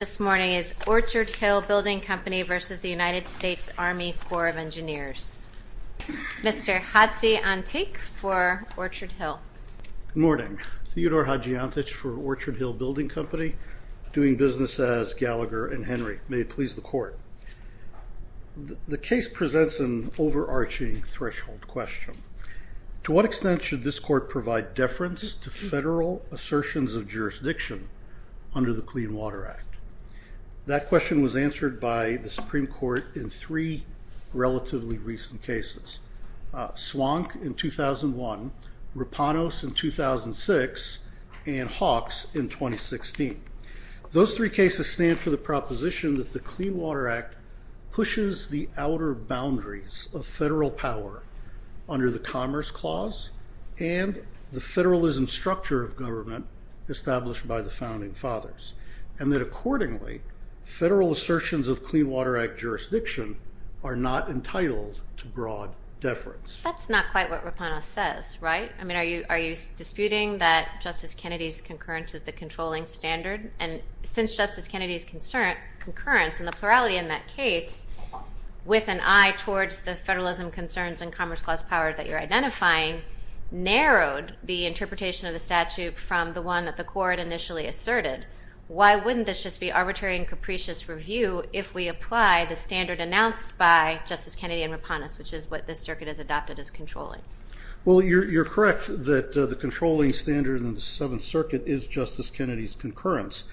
is Orchard Hill Building Company v. United States Army Corps of Engineers. Mr. Hadzi Antic for Orchard Hill. Good morning. Theodore Hadzi Antic for Orchard Hill Building Company, doing business as Gallagher and Henry. May it please the Court. The case presents an overarching threshold question. To what extent should this Court provide deference to federal assertions of jurisdiction under the Clean Water Act? That question was answered by the Supreme Court in three relatively recent cases, Swank in 2001, Rapanos in 2006, and Hawks in 2016. Those three cases stand for the proposition that the Clean Water Act pushes the outer boundaries of federal power under the Commerce Clause and the federalism structure of government established by the Founding Fathers, and that accordingly, federal assertions of Clean Water Act jurisdiction are not entitled to broad deference. That's not quite what Rapanos says, right? I mean, are you disputing that Justice Kennedy's concurrence is the controlling standard? And since Justice Kennedy's concurrence and the plurality in that case, with an eye towards the federalism concerns and Commerce Clause power that you're identifying, narrowed the interpretation of the statute from the one that the Court initially asserted, why wouldn't this just be arbitrary and capricious review if we apply the standard announced by Justice Kennedy and Rapanos, which is what this circuit has adopted as controlling? Well, you're correct that the controlling standard in the Seventh Circuit is Justice Kennedy's concurrence,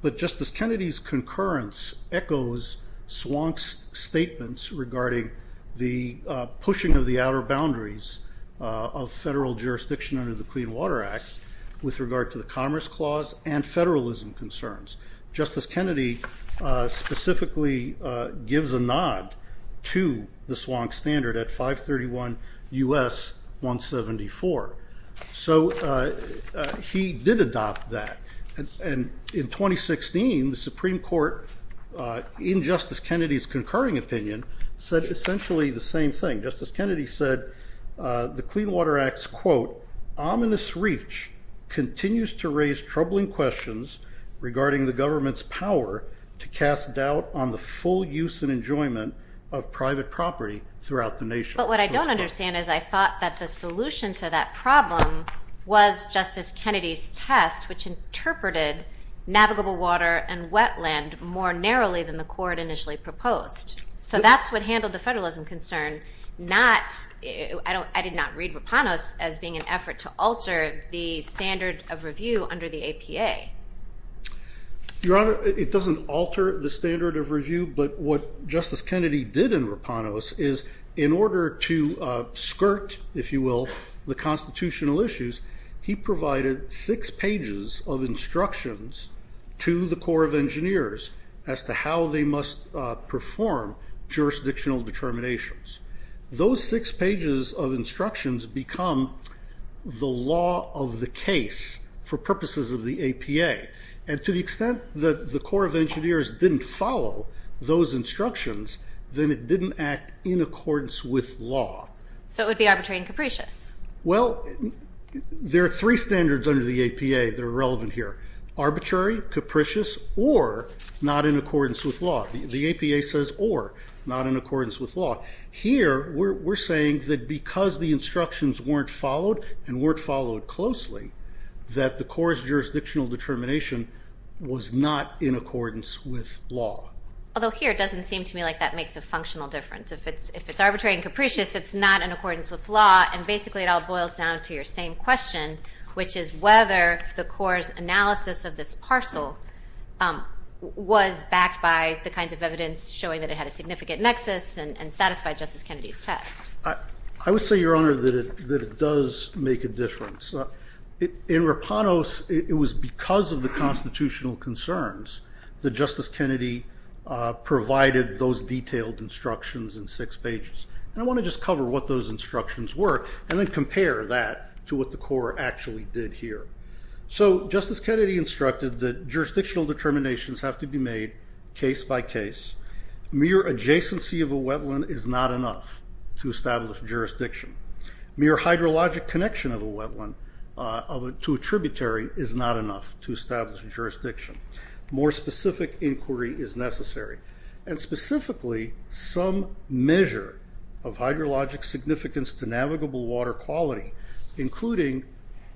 but Justice Kennedy's concurrence echoes Swank's statements regarding the pushing of the outer boundaries of federal jurisdiction under the Clean Water Act with regard to the Commerce Clause and federalism concerns. Justice Kennedy specifically gives a nod to the Swank standard at 531 U.S. 174. So he did adopt that, and in 2016, the Supreme Court, in Justice Kennedy's concurring opinion, said essentially the same thing. Justice Kennedy said the Clean Water Act's, quote, regarding the government's power to cast doubt on the full use and enjoyment of private property throughout the nation. But what I don't understand is I thought that the solution to that problem was Justice Kennedy's test, which interpreted navigable water and wetland more narrowly than the Court initially proposed. So that's what handled the federalism concern. I did not read Rapanos as being an effort to alter the standard of review under the APA. Your Honor, it doesn't alter the standard of review, but what Justice Kennedy did in Rapanos is in order to skirt, if you will, the constitutional issues, he provided six pages of instructions to the Corps of Engineers as to how they must perform jurisdictional determinations. Those six pages of instructions become the law of the case for purposes of the APA. And to the extent that the Corps of Engineers didn't follow those instructions, then it didn't act in accordance with law. So it would be arbitrary and capricious. Well, there are three standards under the APA that are relevant here, arbitrary, capricious, or not in accordance with law. The APA says or, not in accordance with law. Here we're saying that because the instructions weren't followed and weren't followed closely, that the Corps' jurisdictional determination was not in accordance with law. Although here it doesn't seem to me like that makes a functional difference. If it's arbitrary and capricious, it's not in accordance with law, and basically it all boils down to your same question, which is whether the Corps' analysis of this parcel was backed by the kinds of evidence showing that it had a significant nexus and satisfied Justice Kennedy's test. I would say, Your Honor, that it does make a difference. In Rapanos, it was because of the constitutional concerns that Justice Kennedy provided those detailed instructions in six pages. And I want to just cover what those instructions were and then compare that to what the Corps actually did here. So Justice Kennedy instructed that jurisdictional determinations have to be made case by case. Mere adjacency of a wetland is not enough to establish jurisdiction. Mere hydrologic connection of a wetland to a tributary is not enough to establish jurisdiction. More specific inquiry is necessary. And specifically, some measure of hydrologic significance to navigable water quality, including,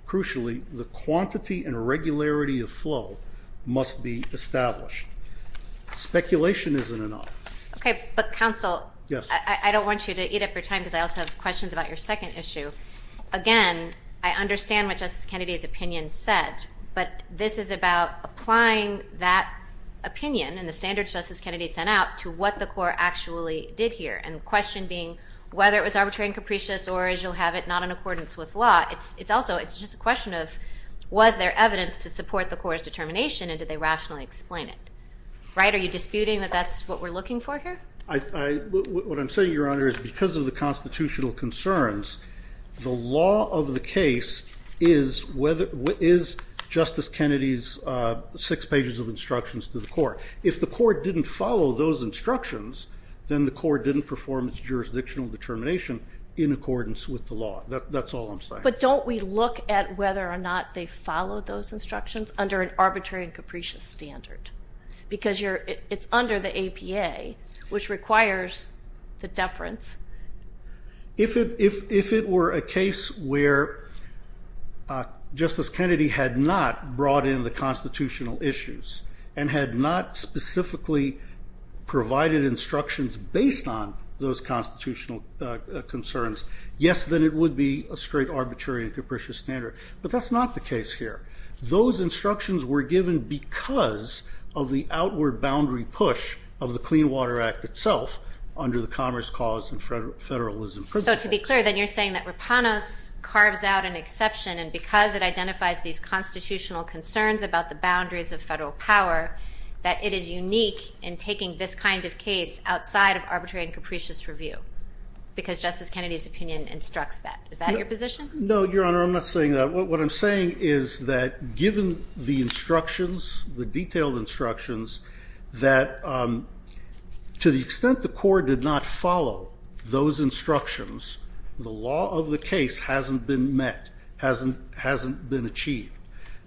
crucially, the quantity and regularity of flow, must be established. Speculation isn't enough. Okay, but counsel, I don't want you to eat up your time because I also have questions about your second issue. Again, I understand what Justice Kennedy's opinion said, but this is about applying that opinion and the standards Justice Kennedy sent out to what the Corps actually did here, and the question being whether it was arbitrary and capricious or, as you'll have it, not in accordance with law. It's also just a question of was there evidence to support the Corps' determination and did they rationally explain it, right? Are you disputing that that's what we're looking for here? What I'm saying, Your Honor, is because of the constitutional concerns, the law of the case is Justice Kennedy's six pages of instructions to the Corps. If the Corps didn't follow those instructions, then the Corps didn't perform its jurisdictional determination in accordance with the law. That's all I'm saying. But don't we look at whether or not they followed those instructions under an arbitrary and capricious standard? Because it's under the APA, which requires the deference. If it were a case where Justice Kennedy had not brought in the constitutional issues and had not specifically provided instructions based on those constitutional concerns, yes, then it would be a straight arbitrary and capricious standard. But that's not the case here. Those instructions were given because of the outward boundary push of the Clean Water Act itself under the commerce, cause, and federalism principles. So to be clear, then you're saying that Rapanos carves out an exception, and because it identifies these constitutional concerns about the boundaries of federal power, that it is unique in taking this kind of case outside of arbitrary and capricious review because Justice Kennedy's opinion instructs that. Is that your position? No, Your Honor, I'm not saying that. What I'm saying is that given the instructions, the detailed instructions, that to the extent the Corps did not follow those instructions, the law of the case hasn't been met, hasn't been achieved.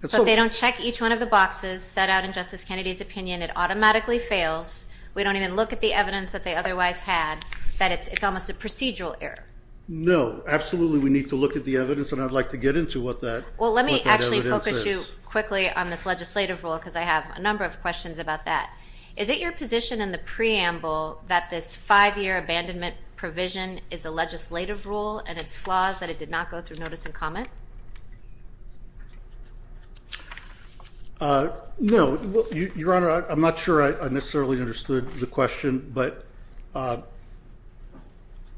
But they don't check each one of the boxes set out in Justice Kennedy's opinion. It automatically fails. We don't even look at the evidence that they otherwise had, that it's almost a procedural error. No, absolutely we need to look at the evidence, and I'd like to get into what that evidence is. Well, let me actually focus you quickly on this legislative rule because I have a number of questions about that. Is it your position in the preamble that this five-year abandonment provision is a legislative rule and its flaws that it did not go through notice and comment? No. Your Honor, I'm not sure I necessarily understood the question, but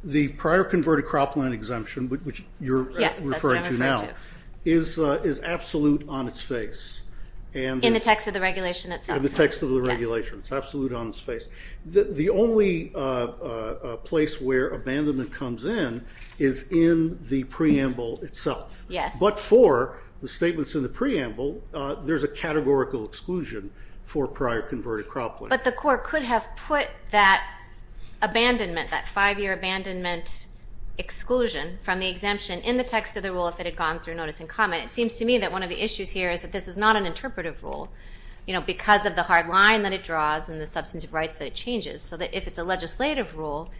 the prior converted cropland exemption, which you're referring to now, is absolute on its face. In the text of the regulation itself? In the text of the regulation. It's absolute on its face. The only place where abandonment comes in is in the preamble itself. Yes. But for the statements in the preamble, there's a categorical exclusion for prior converted cropland. But the court could have put that abandonment, that five-year abandonment exclusion, from the exemption in the text of the rule if it had gone through notice and comment. It seems to me that one of the issues here is that this is not an interpretive rule. You know, because of the hard line that it draws and the substantive rights that it changes, so that if it's a legislative rule,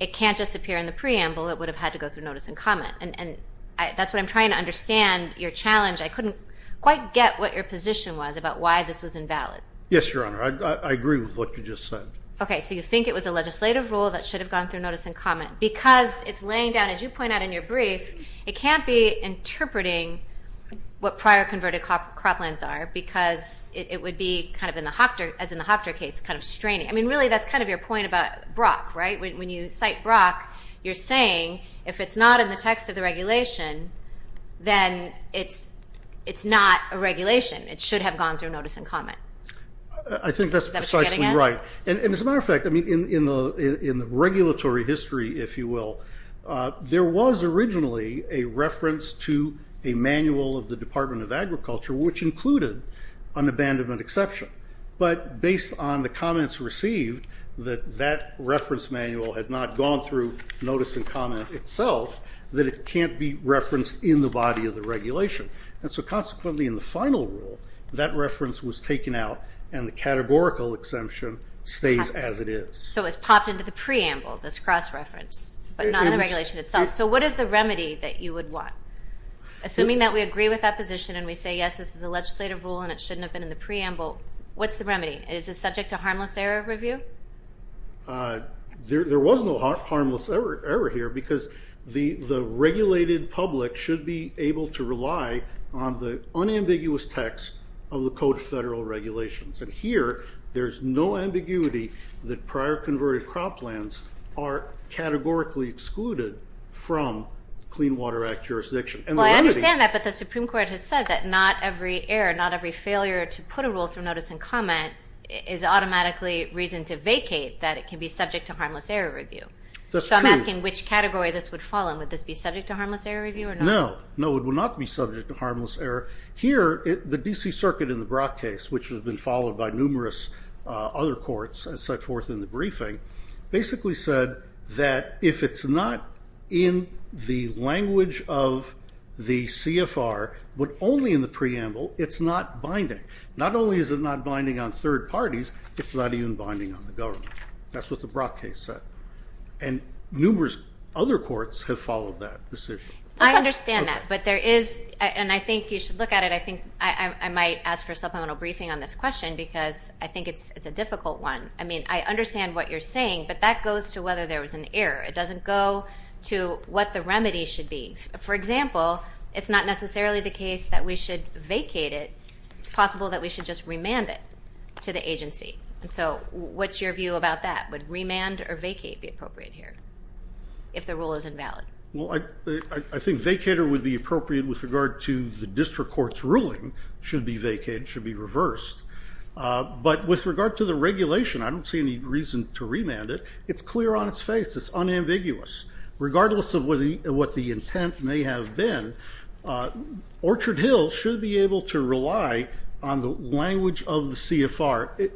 it can't just appear in the preamble. It would have had to go through notice and comment. And that's what I'm trying to understand your challenge. I couldn't quite get what your position was about why this was invalid. Yes, Your Honor. I agree with what you just said. Okay. So you think it was a legislative rule that should have gone through notice and comment. Because it's laying down, as you point out in your brief, it can't be interpreting what prior converted croplands are because it would be, as in the Hochter case, kind of straining. I mean, really, that's kind of your point about Brock, right? When you cite Brock, you're saying if it's not in the text of the regulation, then it's not a regulation. It should have gone through notice and comment. I think that's precisely right. And as a matter of fact, in the regulatory history, if you will, there was originally a reference to a manual of the Department of Agriculture which included an abandonment exception. But based on the comments received, that that reference manual had not gone through notice and comment itself, that it can't be referenced in the body of the regulation. And so consequently in the final rule, that reference was taken out and the categorical exemption stays as it is. So it's popped into the preamble, this cross-reference, but not in the regulation itself. So what is the remedy that you would want? Assuming that we agree with that position and we say, yes, this is a legislative rule and it shouldn't have been in the preamble, what's the remedy? Is this subject to harmless error review? There was no harmless error here because the regulated public should be able to rely on the unambiguous text of the Code of Federal Regulations. And here there's no ambiguity that prior converted croplands are categorically excluded from Clean Water Act jurisdiction. Well, I understand that, but the Supreme Court has said that not every error, not every failure to put a rule through notice and comment is automatically reason to vacate that it can be subject to harmless error review. So I'm asking which category this would fall in. Would this be subject to harmless error review or not? No, no, it would not be subject to harmless error. Here the D.C. Circuit in the Brock case, which has been followed by numerous other courts and set forth in the briefing, basically said that if it's not in the language of the CFR but only in the preamble, it's not binding. Not only is it not binding on third parties, it's not even binding on the government. That's what the Brock case said. And numerous other courts have followed that decision. I understand that, but there is, and I think you should look at it, I think I might ask for a supplemental briefing on this question because I think it's a difficult one. I mean, I understand what you're saying, but that goes to whether there was an error. It doesn't go to what the remedy should be. For example, it's not necessarily the case that we should vacate it. It's possible that we should just remand it to the agency. And so what's your view about that? Would remand or vacate be appropriate here if the rule is invalid? Well, I think vacater would be appropriate with regard to the district court's ruling should be vacated, should be reversed. But with regard to the regulation, I don't see any reason to remand it. It's clear on its face. It's unambiguous. Regardless of what the intent may have been, Orchard Hill should be able to rely on the language of the CFR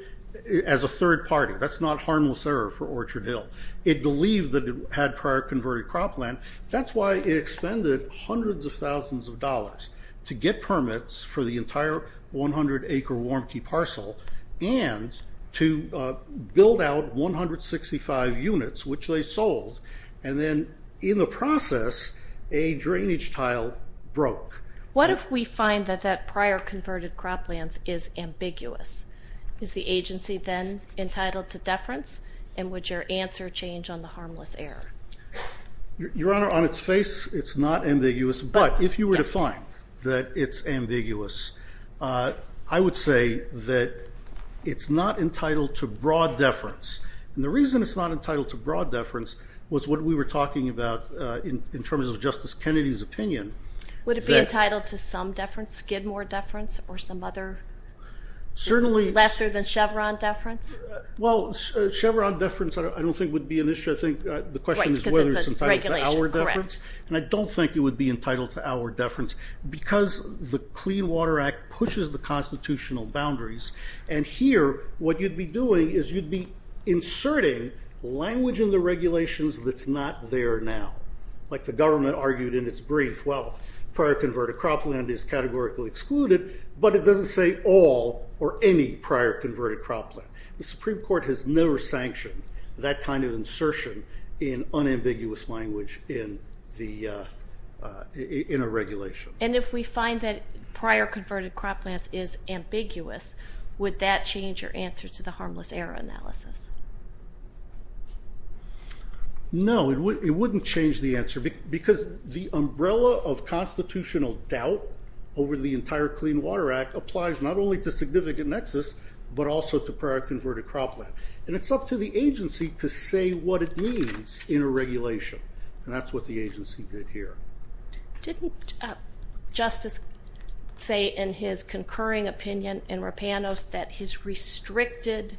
as a third party. That's not harmless error for Orchard Hill. It believed that it had prior converted cropland. That's why it expended hundreds of thousands of dollars to get permits for the entire 100-acre Warmke parcel and to build out 165 units, which they sold. And then in the process, a drainage tile broke. What if we find that that prior converted cropland is ambiguous? Is the agency then entitled to deference? And would your answer change on the harmless error? Your Honor, on its face, it's not ambiguous. But if you were to find that it's ambiguous, I would say that it's not entitled to broad deference. And the reason it's not entitled to broad deference was what we were talking about in terms of Justice Kennedy's opinion. Would it be entitled to some deference, Skidmore deference, or some other lesser than Chevron deference? Well, Chevron deference I don't think would be an issue. I think the question is whether it's entitled to our deference. And I don't think it would be entitled to our deference because the Clean Water Act pushes the constitutional boundaries. And here what you'd be doing is you'd be inserting language in the regulations that's not there now. Like the government argued in its brief, well, prior converted cropland is categorically excluded, but it doesn't say all or any prior converted cropland. The Supreme Court has never sanctioned that kind of insertion in unambiguous language in a regulation. And if we find that prior converted cropland is ambiguous, would that change your answer to the harmless air analysis? No, it wouldn't change the answer because the umbrella of constitutional doubt over the entire Clean Water Act applies not only to significant nexus but also to prior converted cropland. And it's up to the agency to say what it means in a regulation, and that's what the agency did here. Didn't Justice say in his concurring opinion in Rapinos that his restricted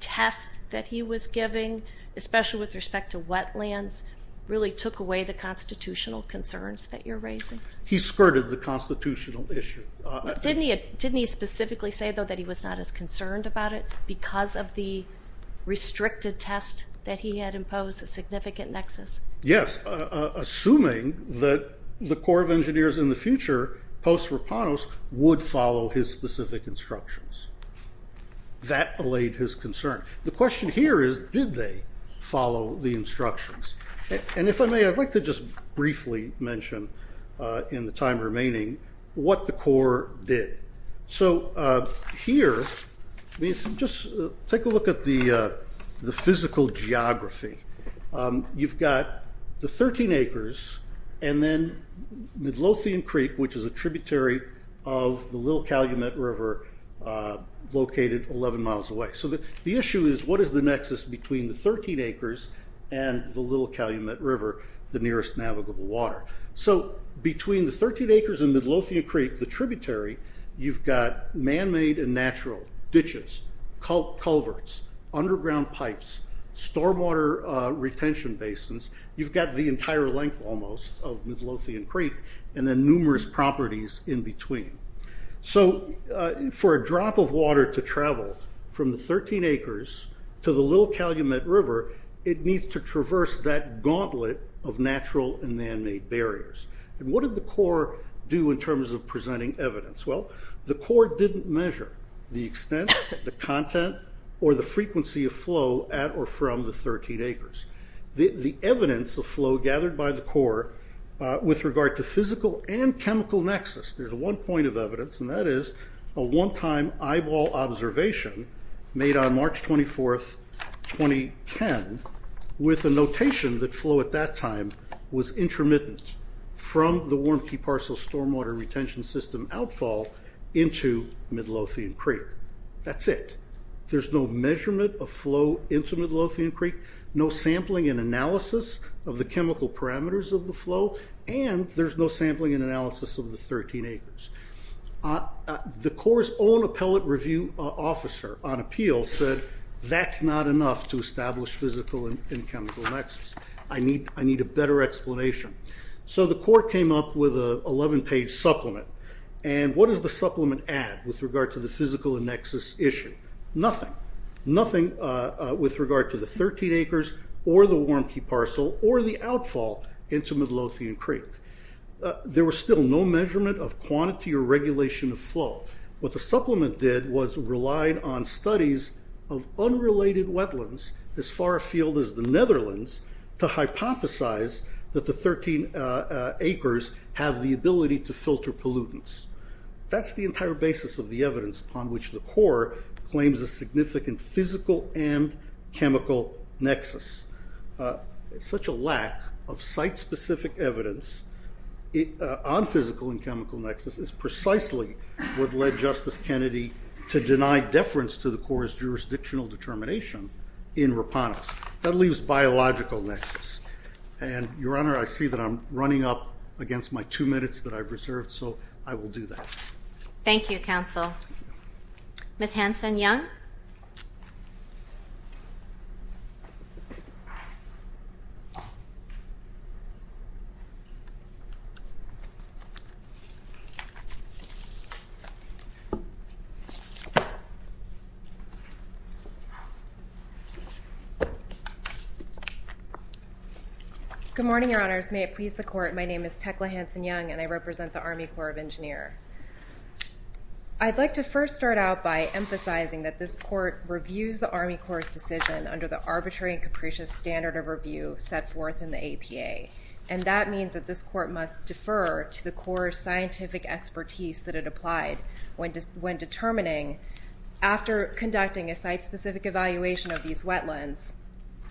test that he was giving, especially with respect to wetlands, really took away the constitutional concerns that you're raising? He skirted the constitutional issue. Didn't he specifically say, though, that he was not as concerned about it because of the restricted test that he had imposed a significant nexus? Yes, assuming that the Corps of Engineers in the future, post-Rapinos, would follow his specific instructions. That allayed his concern. The question here is, did they follow the instructions? And if I may, I'd like to just briefly mention in the time remaining what the Corps did. So here, just take a look at the physical geography. You've got the 13 acres and then Midlothian Creek, which is a tributary of the Little Calumet River located 11 miles away. So the issue is, what is the nexus between the 13 acres and the Little Calumet River, the nearest navigable water? So between the 13 acres and Midlothian Creek, the tributary, you've got man-made and natural ditches, culverts, underground pipes, stormwater retention basins. You've got the entire length, almost, of Midlothian Creek and then numerous properties in between. So for a drop of water to travel from the 13 acres to the Little Calumet River, it needs to traverse that gauntlet of natural and man-made barriers. And what did the Corps do in terms of presenting evidence? Well, the Corps didn't measure the extent, the content, or the frequency of flow at or from the 13 acres. The evidence of flow gathered by the Corps with regard to physical and chemical nexus, there's one point of evidence, and that is a one-time eyeball observation made on March 24, 2010, with a notation that flow at that time was intermittent from the Warm Key Parcel stormwater retention system outfall into Midlothian Creek. That's it. There's no measurement of flow into Midlothian Creek, no sampling and analysis of the chemical parameters of the flow, and there's no sampling and analysis of the 13 acres. The Corps' own appellate review officer on appeal said, that's not enough to establish physical and chemical nexus. I need a better explanation. So the Corps came up with an 11-page supplement, and what does the supplement add with regard to the physical nexus issue? Nothing. Nothing with regard to the 13 acres or the Warm Key Parcel or the outfall into Midlothian Creek. There was still no measurement of quantity or regulation of flow. What the supplement did was relied on studies of unrelated wetlands as far afield as the Netherlands to hypothesize that the 13 acres have the ability to filter pollutants. That's the entire basis of the evidence upon which the Corps claims a significant physical and chemical nexus. Such a lack of site-specific evidence on physical and chemical nexus is precisely what led Justice Kennedy to deny deference to the Corps' jurisdictional determination in Rapanos. That leaves biological nexus. And, Your Honor, I see that I'm running up against my two minutes that I've reserved, so I will do that. Thank you, Counsel. Ms. Hanson-Young? Good morning, Your Honors. May it please the Court, my name is Tekla Hanson-Young and I represent the Army Corps of Engineers. I'd like to first start out by emphasizing that this Court reviews the Army Corps' decision under the arbitrary and capricious standard of review set forth in the APA, and that means that this Court must defer to the Corps' scientific expertise that it applied when determining, after conducting a site-specific evaluation of these wetlands,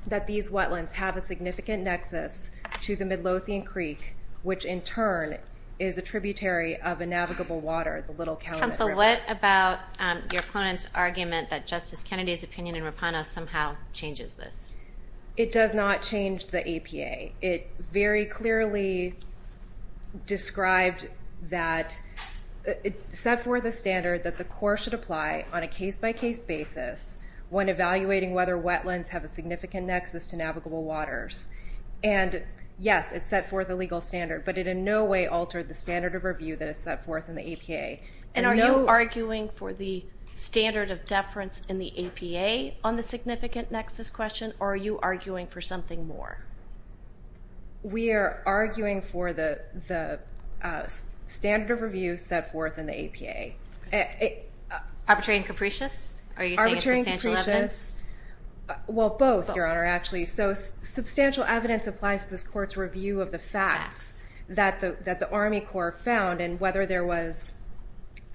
that these wetlands have a significant nexus to the Midlothian Creek, which in turn is a tributary of a navigable water, the Little Calumet River. Counsel, what about your opponent's argument that Justice Kennedy's opinion in Rapanos somehow changes this? It does not change the APA. It very clearly described that it set forth a standard that the Corps should apply on a case-by-case basis when evaluating whether wetlands have a significant nexus to navigable waters. And, yes, it set forth a legal standard, but it in no way altered the standard of review that is set forth in the APA. And are you arguing for the standard of deference in the APA on the significant nexus question, or are you arguing for something more? We are arguing for the standard of review set forth in the APA. Arbitrary and capricious? Arbitrary and capricious. Well, both, Your Honor, actually. So substantial evidence applies to this Court's review of the facts that the Army Corps found, and whether there was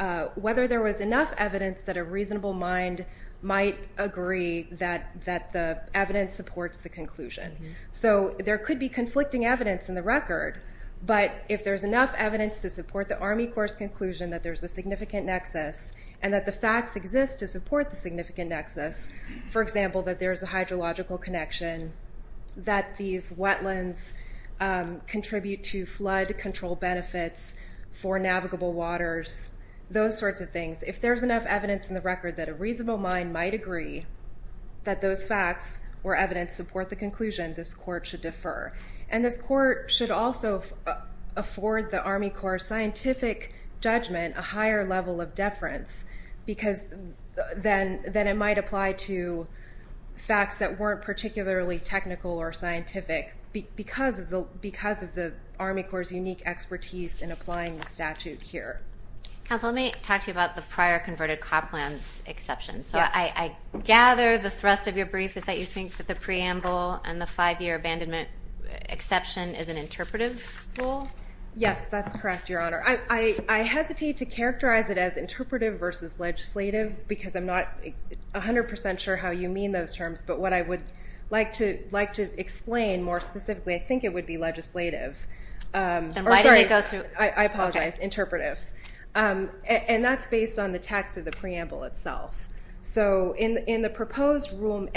enough evidence that a reasonable mind might agree that the evidence supports the conclusion. So there could be conflicting evidence in the record, but if there's enough evidence to support the Army Corps' conclusion that there's a significant nexus and that the facts exist to support the significant nexus, for example, that there's a hydrological connection, that these wetlands contribute to flood control benefits for navigable waters, those sorts of things, if there's enough evidence in the record that a reasonable mind might agree that those facts or evidence support the conclusion, this Court should defer. And this Court should also afford the Army Corps' scientific judgment a higher level of deference because then it might apply to facts that weren't particularly technical or scientific because of the Army Corps' unique expertise in applying the statute here. Counsel, let me talk to you about the prior converted cop lands exception. So I gather the thrust of your brief is that you think that the preamble and the five-year abandonment exception is an interpretive rule? Yes, that's correct, Your Honor. I hesitate to characterize it as interpretive versus legislative because I'm not 100% sure how you mean those terms, but what I would like to explain more specifically, I think it would be legislative. Then why did they go through? I apologize, interpretive. And that's based on the text of the preamble itself. So in the proposed rule,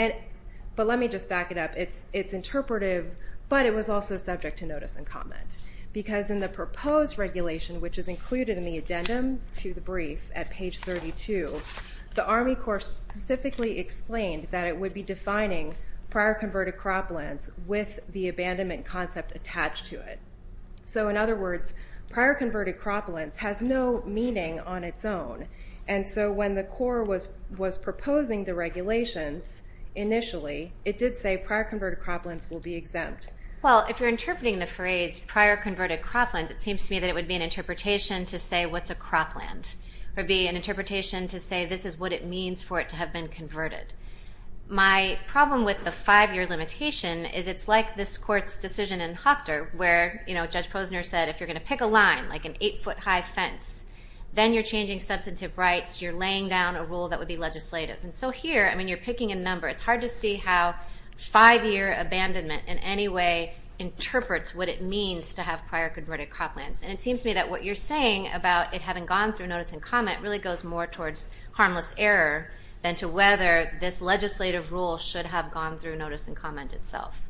but let me just back it up. It's interpretive, but it was also subject to notice and comment because in the proposed regulation, which is included in the addendum to the brief at page 32, the Army Corps specifically explained that it would be defining prior converted crop lands with the abandonment concept attached to it. So in other words, prior converted crop lands has no meaning on its own, and so when the Corps was proposing the regulations initially, it did say prior converted crop lands will be exempt. Well, if you're interpreting the phrase prior converted crop lands, it seems to me that it would be an interpretation to say what's a crop land. It would be an interpretation to say this is what it means for it to have been converted. My problem with the five-year limitation is it's like this court's decision in Hochter where Judge Posner said if you're going to pick a line like an eight-foot high fence, then you're changing substantive rights. You're laying down a rule that would be legislative. And so here, I mean, you're picking a number. It's hard to see how five-year abandonment in any way interprets what it means to have prior converted crop lands. And it seems to me that what you're saying about it having gone through notice and comment really goes more towards harmless error than to whether this legislative rule should have gone through notice and comment itself.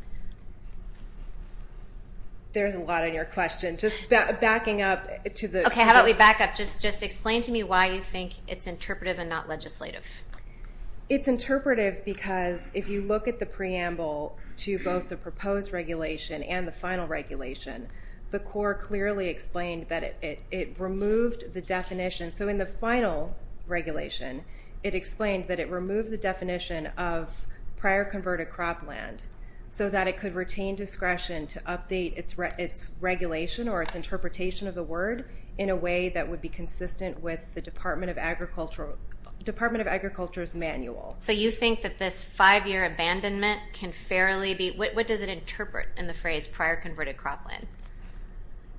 There's a lot in your question. Just backing up to the truth. Okay, how about we back up? Just explain to me why you think it's interpretive and not legislative. It's interpretive because if you look at the preamble to both the proposed regulation and the final regulation, the Corps clearly explained that it removed the definition. So in the final regulation, it explained that it removed the definition of prior converted crop land so that it could retain discretion to update its regulation or its interpretation of the word in a way that would be consistent with the Department of Agriculture's manual. So you think that this five-year abandonment can fairly be— what does it interpret in the phrase prior converted crop land?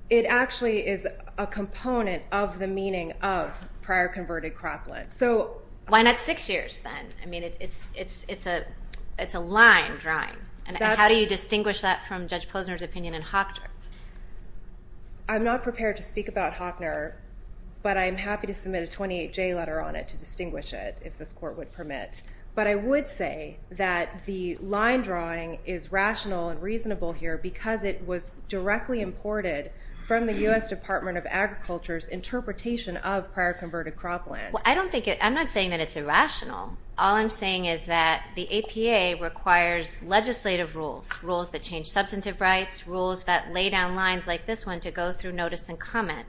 It actually is a component of the meaning of prior converted crop land. So— Why not six years then? I mean, it's a line drawing. And how do you distinguish that from Judge Posner's opinion in Hockner? I'm not prepared to speak about Hockner, but I'm happy to submit a 28J letter on it to distinguish it if this Court would permit. But I would say that the line drawing is rational and reasonable here because it was directly imported from the U.S. Department of Agriculture's interpretation of prior converted crop land. Well, I don't think it—I'm not saying that it's irrational. All I'm saying is that the APA requires legislative rules, rules that change substantive rights, rules that lay down lines like this one to go through notice and comment.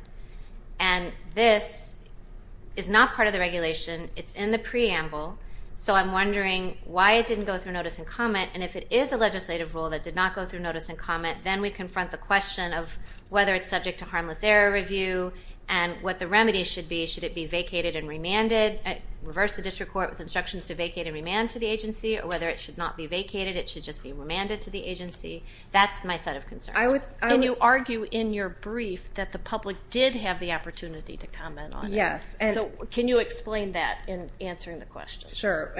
And this is not part of the regulation. It's in the preamble. So I'm wondering why it didn't go through notice and comment. And if it is a legislative rule that did not go through notice and comment, then we confront the question of whether it's subject to harmless error review and what the remedy should be. Should it be vacated and remanded? Reverse the district court with instructions to vacate and remand to the agency or whether it should not be vacated. It should just be remanded to the agency. That's my set of concerns. And you argue in your brief that the public did have the opportunity to comment on it. Yes. So can you explain that in answering the question? Sure.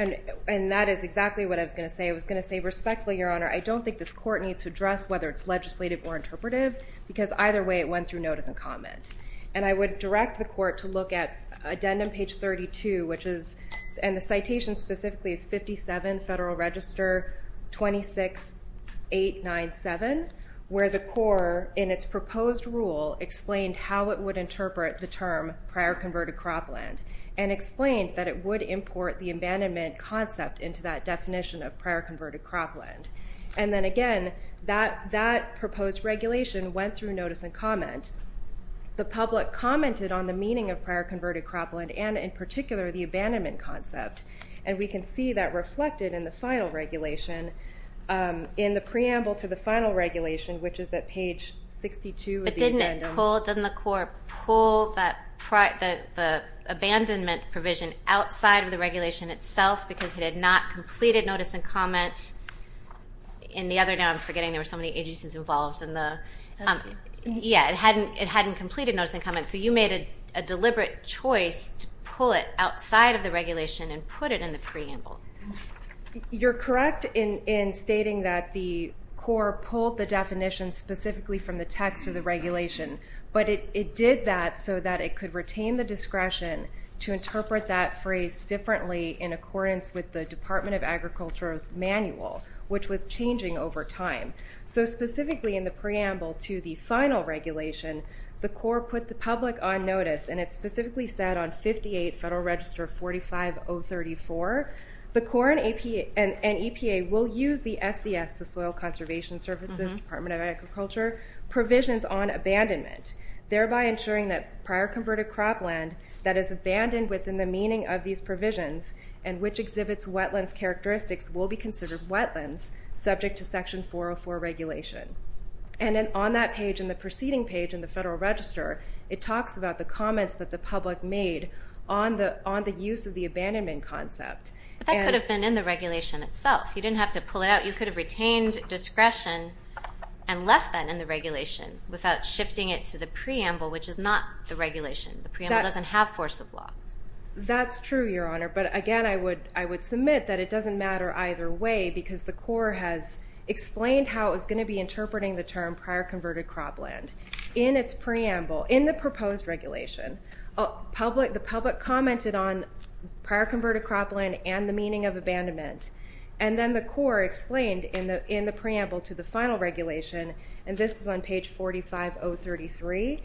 And that is exactly what I was going to say. I was going to say respectfully, Your Honor, I don't think this court needs to address whether it's legislative or interpretive because either way it went through notice and comment. And I would direct the court to look at addendum page 32, and the citation specifically is 57 Federal Register 26897, where the court in its proposed rule explained how it would interpret the term prior converted cropland and explained that it would import the abandonment concept into that definition of prior converted cropland. And then, again, that proposed regulation went through notice and comment. The public commented on the meaning of prior converted cropland and in particular the abandonment concept. And we can see that reflected in the final regulation, in the preamble to the final regulation, which is at page 62 of the addendum. But didn't it pull, didn't the court pull the abandonment provision outside of the regulation itself because it had not completed notice and comment? In the other, now I'm forgetting, there were so many agencies involved in the, yeah, it hadn't completed notice and comment, so you made a deliberate choice to pull it outside of the regulation and put it in the preamble. You're correct in stating that the court pulled the definition specifically from the text of the regulation, but it did that so that it could retain the discretion to interpret that phrase differently in accordance with the Department of Agriculture's manual, which was changing over time. So specifically in the preamble to the final regulation, the court put the public on notice, and it specifically said on 58 Federal Register 45034, the court and EPA will use the SES, the Soil Conservation Services, Department of Agriculture, provisions on abandonment, thereby ensuring that prior converted cropland, that is abandoned within the meaning of these provisions and which exhibits wetlands characteristics will be considered wetlands, subject to Section 404 regulation. And then on that page and the preceding page in the Federal Register, it talks about the comments that the public made on the use of the abandonment concept. But that could have been in the regulation itself. You didn't have to pull it out. You could have retained discretion and left that in the regulation without shifting it to the preamble, which is not the regulation. The preamble doesn't have force of law. That's true, Your Honor. But again, I would submit that it doesn't matter either way because the court has explained how it was going to be interpreting the term prior converted cropland. In its preamble, in the proposed regulation, the public commented on prior converted cropland and the meaning of abandonment. And then the court explained in the preamble to the final regulation, and this is on page 45033,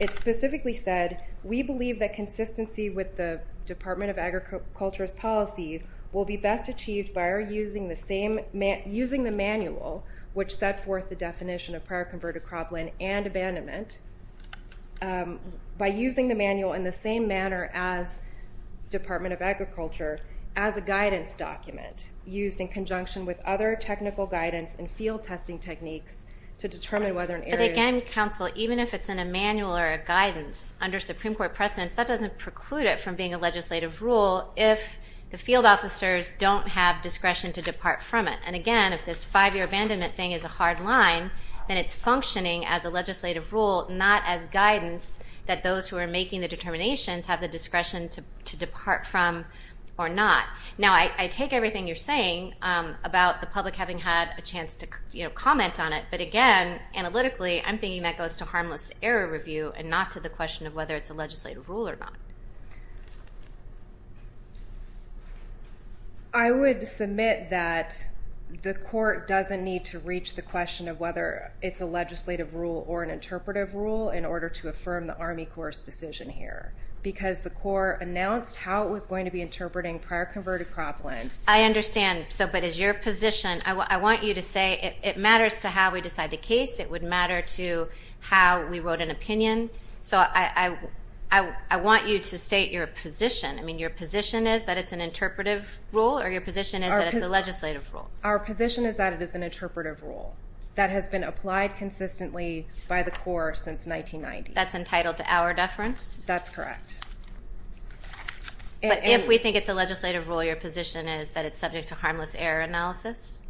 it specifically said, we believe that consistency with the Department of Agriculture's policy will be best achieved by using the manual, which set forth the definition of prior converted cropland and abandonment, by using the manual in the same manner as Department of Agriculture as a guidance document used in conjunction with other technical guidance and field testing techniques to determine whether an area is- a council, even if it's in a manual or a guidance, under Supreme Court precedence, that doesn't preclude it from being a legislative rule if the field officers don't have discretion to depart from it. And again, if this five-year abandonment thing is a hard line, then it's functioning as a legislative rule, not as guidance that those who are making the determinations have the discretion to depart from or not. Now, I take everything you're saying about the public having had a chance to comment on it, but again, analytically, I'm thinking that goes to harmless error review and not to the question of whether it's a legislative rule or not. I would submit that the court doesn't need to reach the question of whether it's a legislative rule or an interpretive rule in order to affirm the Army Corps' decision here, because the Corps announced how it was going to be interpreting prior converted cropland. I understand, but as your position, I want you to say it matters to how we decide the case, it would matter to how we wrote an opinion. So I want you to state your position. I mean, your position is that it's an interpretive rule, or your position is that it's a legislative rule? Our position is that it is an interpretive rule that has been applied consistently by the Corps since 1990. That's entitled to our deference? That's correct. But if we think it's a legislative rule, your position is that it's subject to harmless error analysis?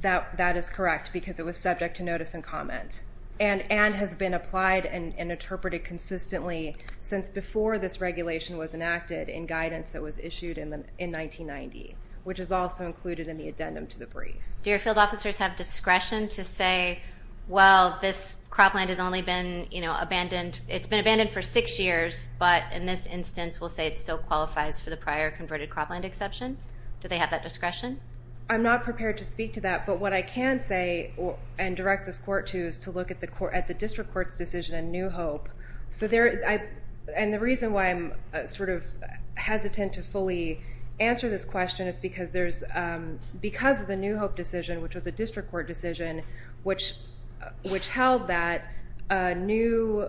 That is correct because it was subject to notice and comment and has been applied and interpreted consistently since before this regulation was enacted in guidance that was issued in 1990, which is also included in the addendum to the brief. Do your field officers have discretion to say, well, this cropland has only been abandoned, it's been abandoned for six years, but in this instance we'll say it still qualifies for the prior converted cropland exception? Do they have that discretion? I'm not prepared to speak to that, but what I can say and direct this court to is to look at the district court's decision in New Hope. And the reason why I'm sort of hesitant to fully answer this question is because of the New Hope decision, which was a district court decision, which held that a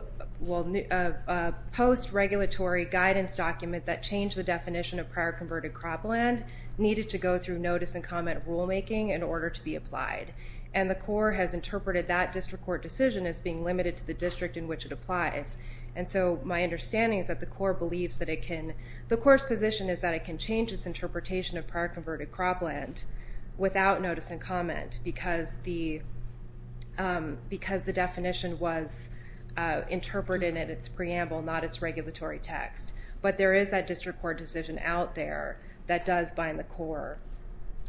post-regulatory guidance document that changed the definition of prior converted cropland needed to go through notice and comment rulemaking in order to be applied. And the court has interpreted that district court decision as being limited to the district in which it applies. And so my understanding is that the court believes that it can, the court's position is that it can change its interpretation of prior converted cropland without notice and comment because the definition was interpreted in its preamble, not its regulatory text. But there is that district court decision out there that does bind the court,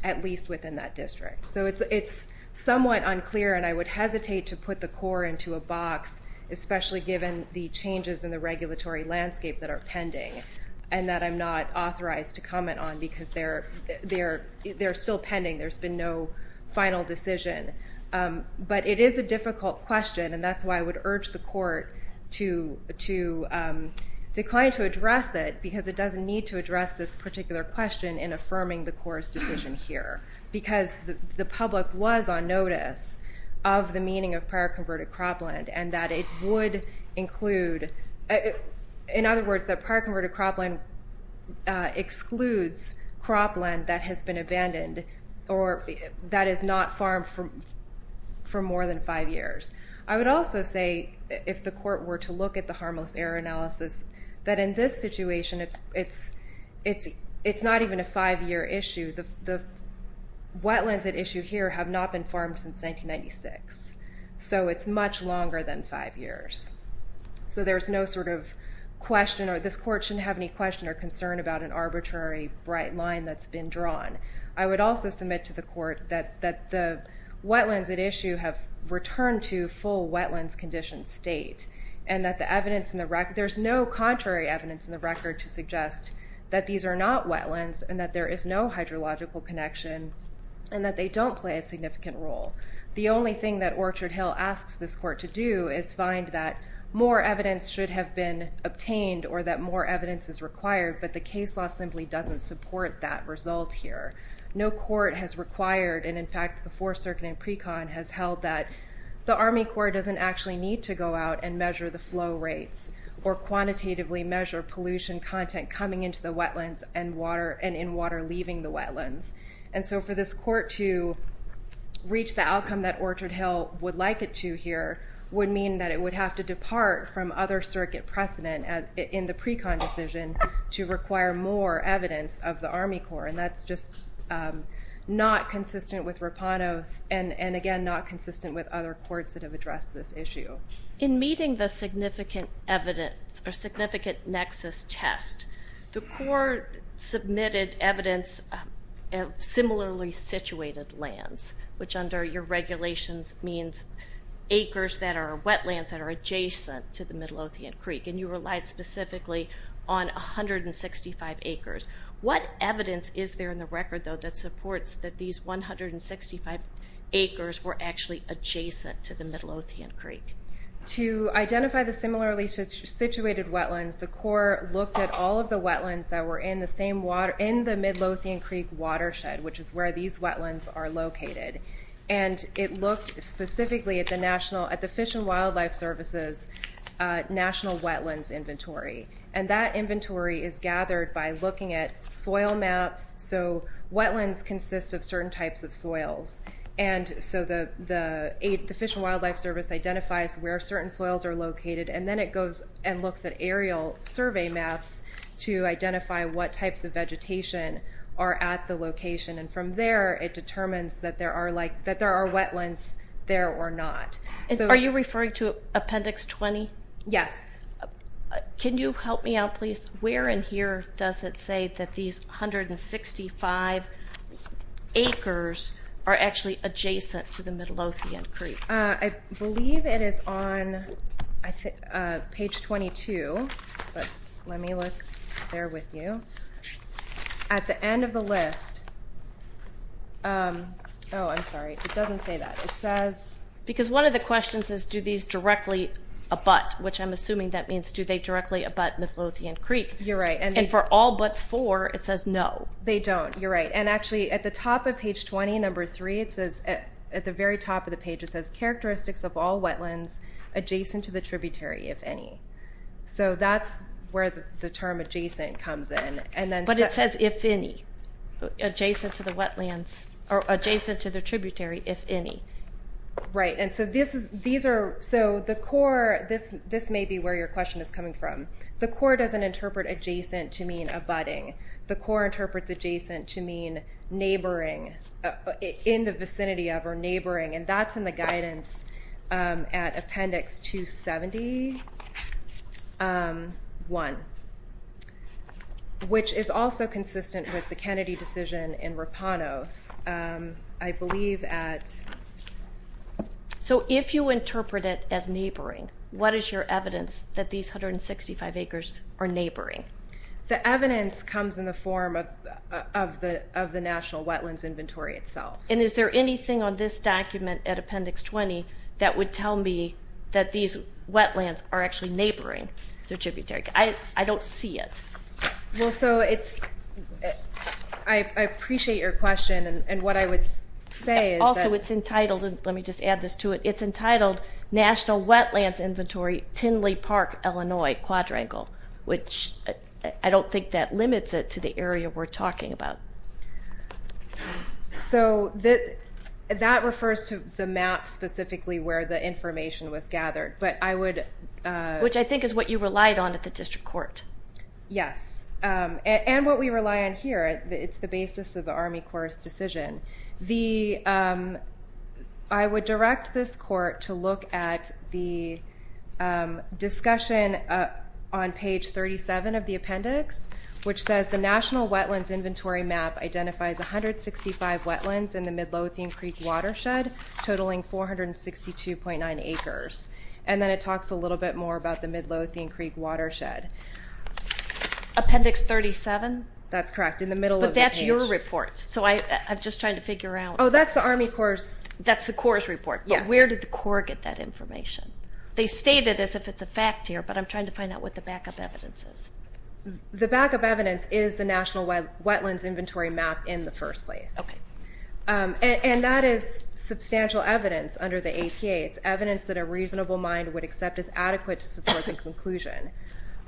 at least within that district. So it's somewhat unclear, and I would hesitate to put the court into a box, especially given the changes in the regulatory landscape that are pending and that I'm not authorized to comment on because they're still pending. There's been no final decision. But it is a difficult question, and that's why I would urge the court to decline to address it because it doesn't need to address this particular question in affirming the court's decision here because the public was on notice of the meaning of prior converted cropland and that it would include, in other words, that prior converted cropland excludes cropland that has been abandoned or that is not farmed for more than five years. I would also say, if the court were to look at the harmless error analysis, that in this situation, it's not even a five-year issue. The wetlands at issue here have not been farmed since 1996, so it's much longer than five years. So there's no sort of question, or this court shouldn't have any question or concern about an arbitrary bright line that's been drawn. I would also submit to the court that the wetlands at issue have returned to full wetlands condition state and that the evidence in the record... There's no contrary evidence in the record to suggest that these are not wetlands and that there is no hydrological connection and that they don't play a significant role. The only thing that Orchard Hill asks this court to do is find that more evidence should have been obtained or that more evidence is required, but the case law simply doesn't support that result here. No court has required, and in fact, the Fourth Circuit and pre-con has held that the Army Corps doesn't actually need to go out and measure the flow rates or quantitatively measure pollution content coming into the wetlands and in water leaving the wetlands. And so for this court to reach the outcome that Orchard Hill would like it to here would mean that it would have to depart from other circuit precedent in the pre-con decision to require more evidence of the Army Corps, and that's just not consistent with Rapanos and, again, not consistent with other courts that have addressed this issue. In meeting the significant evidence, or significant nexus test, the court submitted evidence of similarly situated lands, which under your regulations means acres that are wetlands that are adjacent to the Middle Othean Creek, and you relied specifically on 165 acres. What evidence is there in the record, though, that supports that these 165 acres were actually adjacent to the Middle Othean Creek? To identify the similarly situated wetlands, the court looked at all of the wetlands that were in the same water... in the Middle Othean Creek watershed, which is where these wetlands are located, and it looked specifically at the National... at the Fish and Wildlife Service's National Wetlands Inventory, and that inventory is gathered by looking at soil maps. So wetlands consist of certain types of soils, and so the Fish and Wildlife Service identifies where certain soils are located, and then it goes and looks at aerial survey maps to identify what types of vegetation are at the location, and from there it determines that there are wetlands there or not. Are you referring to Appendix 20? Yes. Can you help me out, please? Where in here does it say that these 165 acres are actually adjacent to the Middle Othean Creek? I believe it is on page 22, but let me look there with you. At the end of the list... Oh, I'm sorry, it doesn't say that. It says... Because one of the questions is do these directly abut, which I'm assuming that means do they directly abut Middle Othean Creek. You're right. And for all but four, it says no. They don't. You're right. And actually at the top of page 20, number three, at the very top of the page it says characteristics of all wetlands adjacent to the tributary, if any. So that's where the term adjacent comes in. But it says if any, adjacent to the wetlands, or adjacent to the tributary, if any. Right. And so the core, this may be where your question is coming from. The core doesn't interpret adjacent to mean abutting. The core interprets adjacent to mean neighboring, in the vicinity of or neighboring, and that's in the guidance at Appendix 271, which is also consistent with the Kennedy decision in Rapanos, I believe at. So if you interpret it as neighboring, what is your evidence that these 165 acres are neighboring? The evidence comes in the form of the National Wetlands Inventory itself. And is there anything on this document at Appendix 20 that would tell me that these wetlands are actually neighboring the tributary? I don't see it. Well, so it's ‑‑ I appreciate your question, and what I would say is that ‑‑ Also, it's entitled, and let me just add this to it, it's entitled National Wetlands Inventory, Tinley Park, Illinois, Quadrangle, which I don't think that limits it to the area we're talking about. So that refers to the map specifically where the information was gathered. But I would ‑‑ Which I think is what you relied on at the district court. Yes. And what we rely on here, it's the basis of the Army Corps' decision. The ‑‑ I would direct this court to look at the discussion on page 37 of the appendix, which says the National Wetlands Inventory map identifies 165 wetlands in the Midlothian Creek watershed, totaling 462.9 acres. And then it talks a little bit more about the Midlothian Creek watershed. Appendix 37? That's correct, in the middle of the page. But that's your report, so I'm just trying to figure out ‑‑ Oh, that's the Army Corps' ‑‑ That's the Corps' report, but where did the Corps get that information? They state it as if it's a fact here, but I'm trying to find out what the backup evidence is. The backup evidence is the National Wetlands Inventory map in the first place. Okay. And that is substantial evidence under the APA. It's evidence that a reasonable mind would accept as adequate to support the conclusion.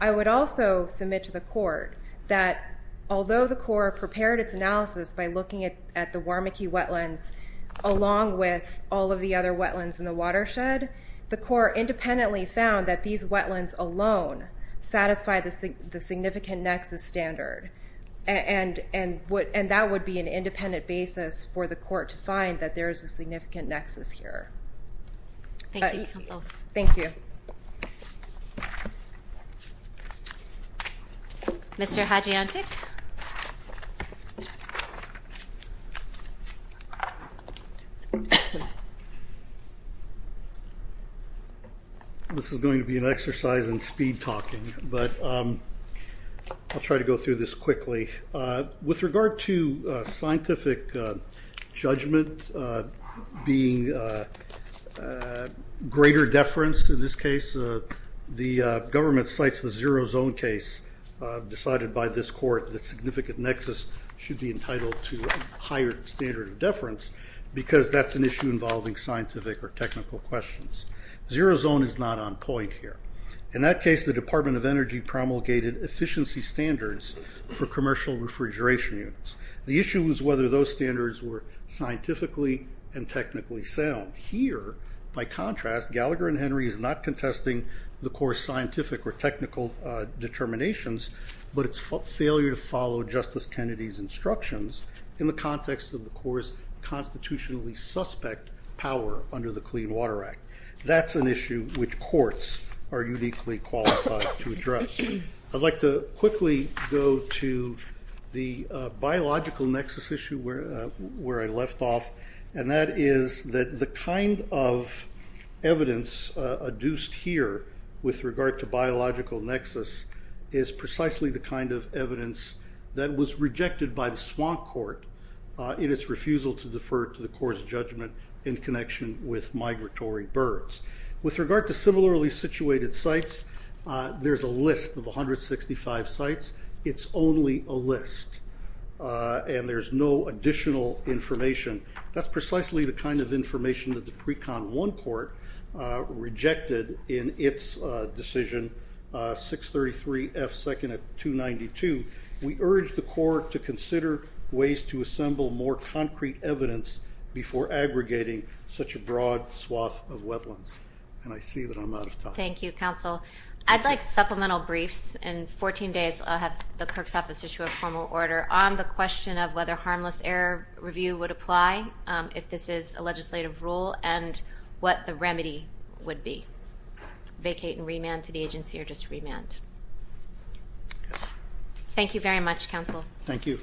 I would also submit to the court that although the Corps prepared its analysis by looking at the Warmicky wetlands along with all of the other wetlands in the watershed, the Corps independently found that these wetlands alone satisfy the significant nexus standard, and that would be an independent basis for the court to find that there is a significant nexus here. Thank you, counsel. Thank you. Mr. Hadjiantic? This is going to be an exercise in speed talking, but I'll try to go through this quickly. With regard to scientific judgment being greater deference in this case, the government cites the zero zone case decided by this court that significant nexus should be entitled to a higher standard of deference because that's an issue involving scientific or technical questions. Zero zone is not on point here. In that case, the Department of Energy promulgated efficiency standards for commercial refrigeration units. The issue was whether those standards were scientifically and technically sound. Here, by contrast, Gallagher and Henry is not contesting the Corps' scientific or technical determinations, but its failure to follow Justice Kennedy's instructions in the context of the Corps' constitutionally suspect power under the Clean Water Act. That's an issue which courts are uniquely qualified to address. I'd like to quickly go to the biological nexus issue where I left off, and that is that the kind of evidence adduced here with regard to biological nexus is precisely the kind of evidence that was rejected by the Swamp Court in its refusal to defer to the Corps' judgment in connection with migratory birds. With regard to similarly situated sites, there's a list of 165 sites. It's only a list, and there's no additional information. That's precisely the kind of information that the pre-con one court rejected in its decision 633 F. 2nd of 292. We urge the court to consider ways to assemble more concrete evidence before aggregating such a broad swath of wetlands. And I see that I'm out of time. Thank you, Counsel. I'd like supplemental briefs. In 14 days I'll have the clerk's office issue a formal order on the question of whether harmless error review would apply if this is a legislative rule and what the remedy would be, vacate and remand to the agency or just remand. Thank you very much, Counsel. Thank you.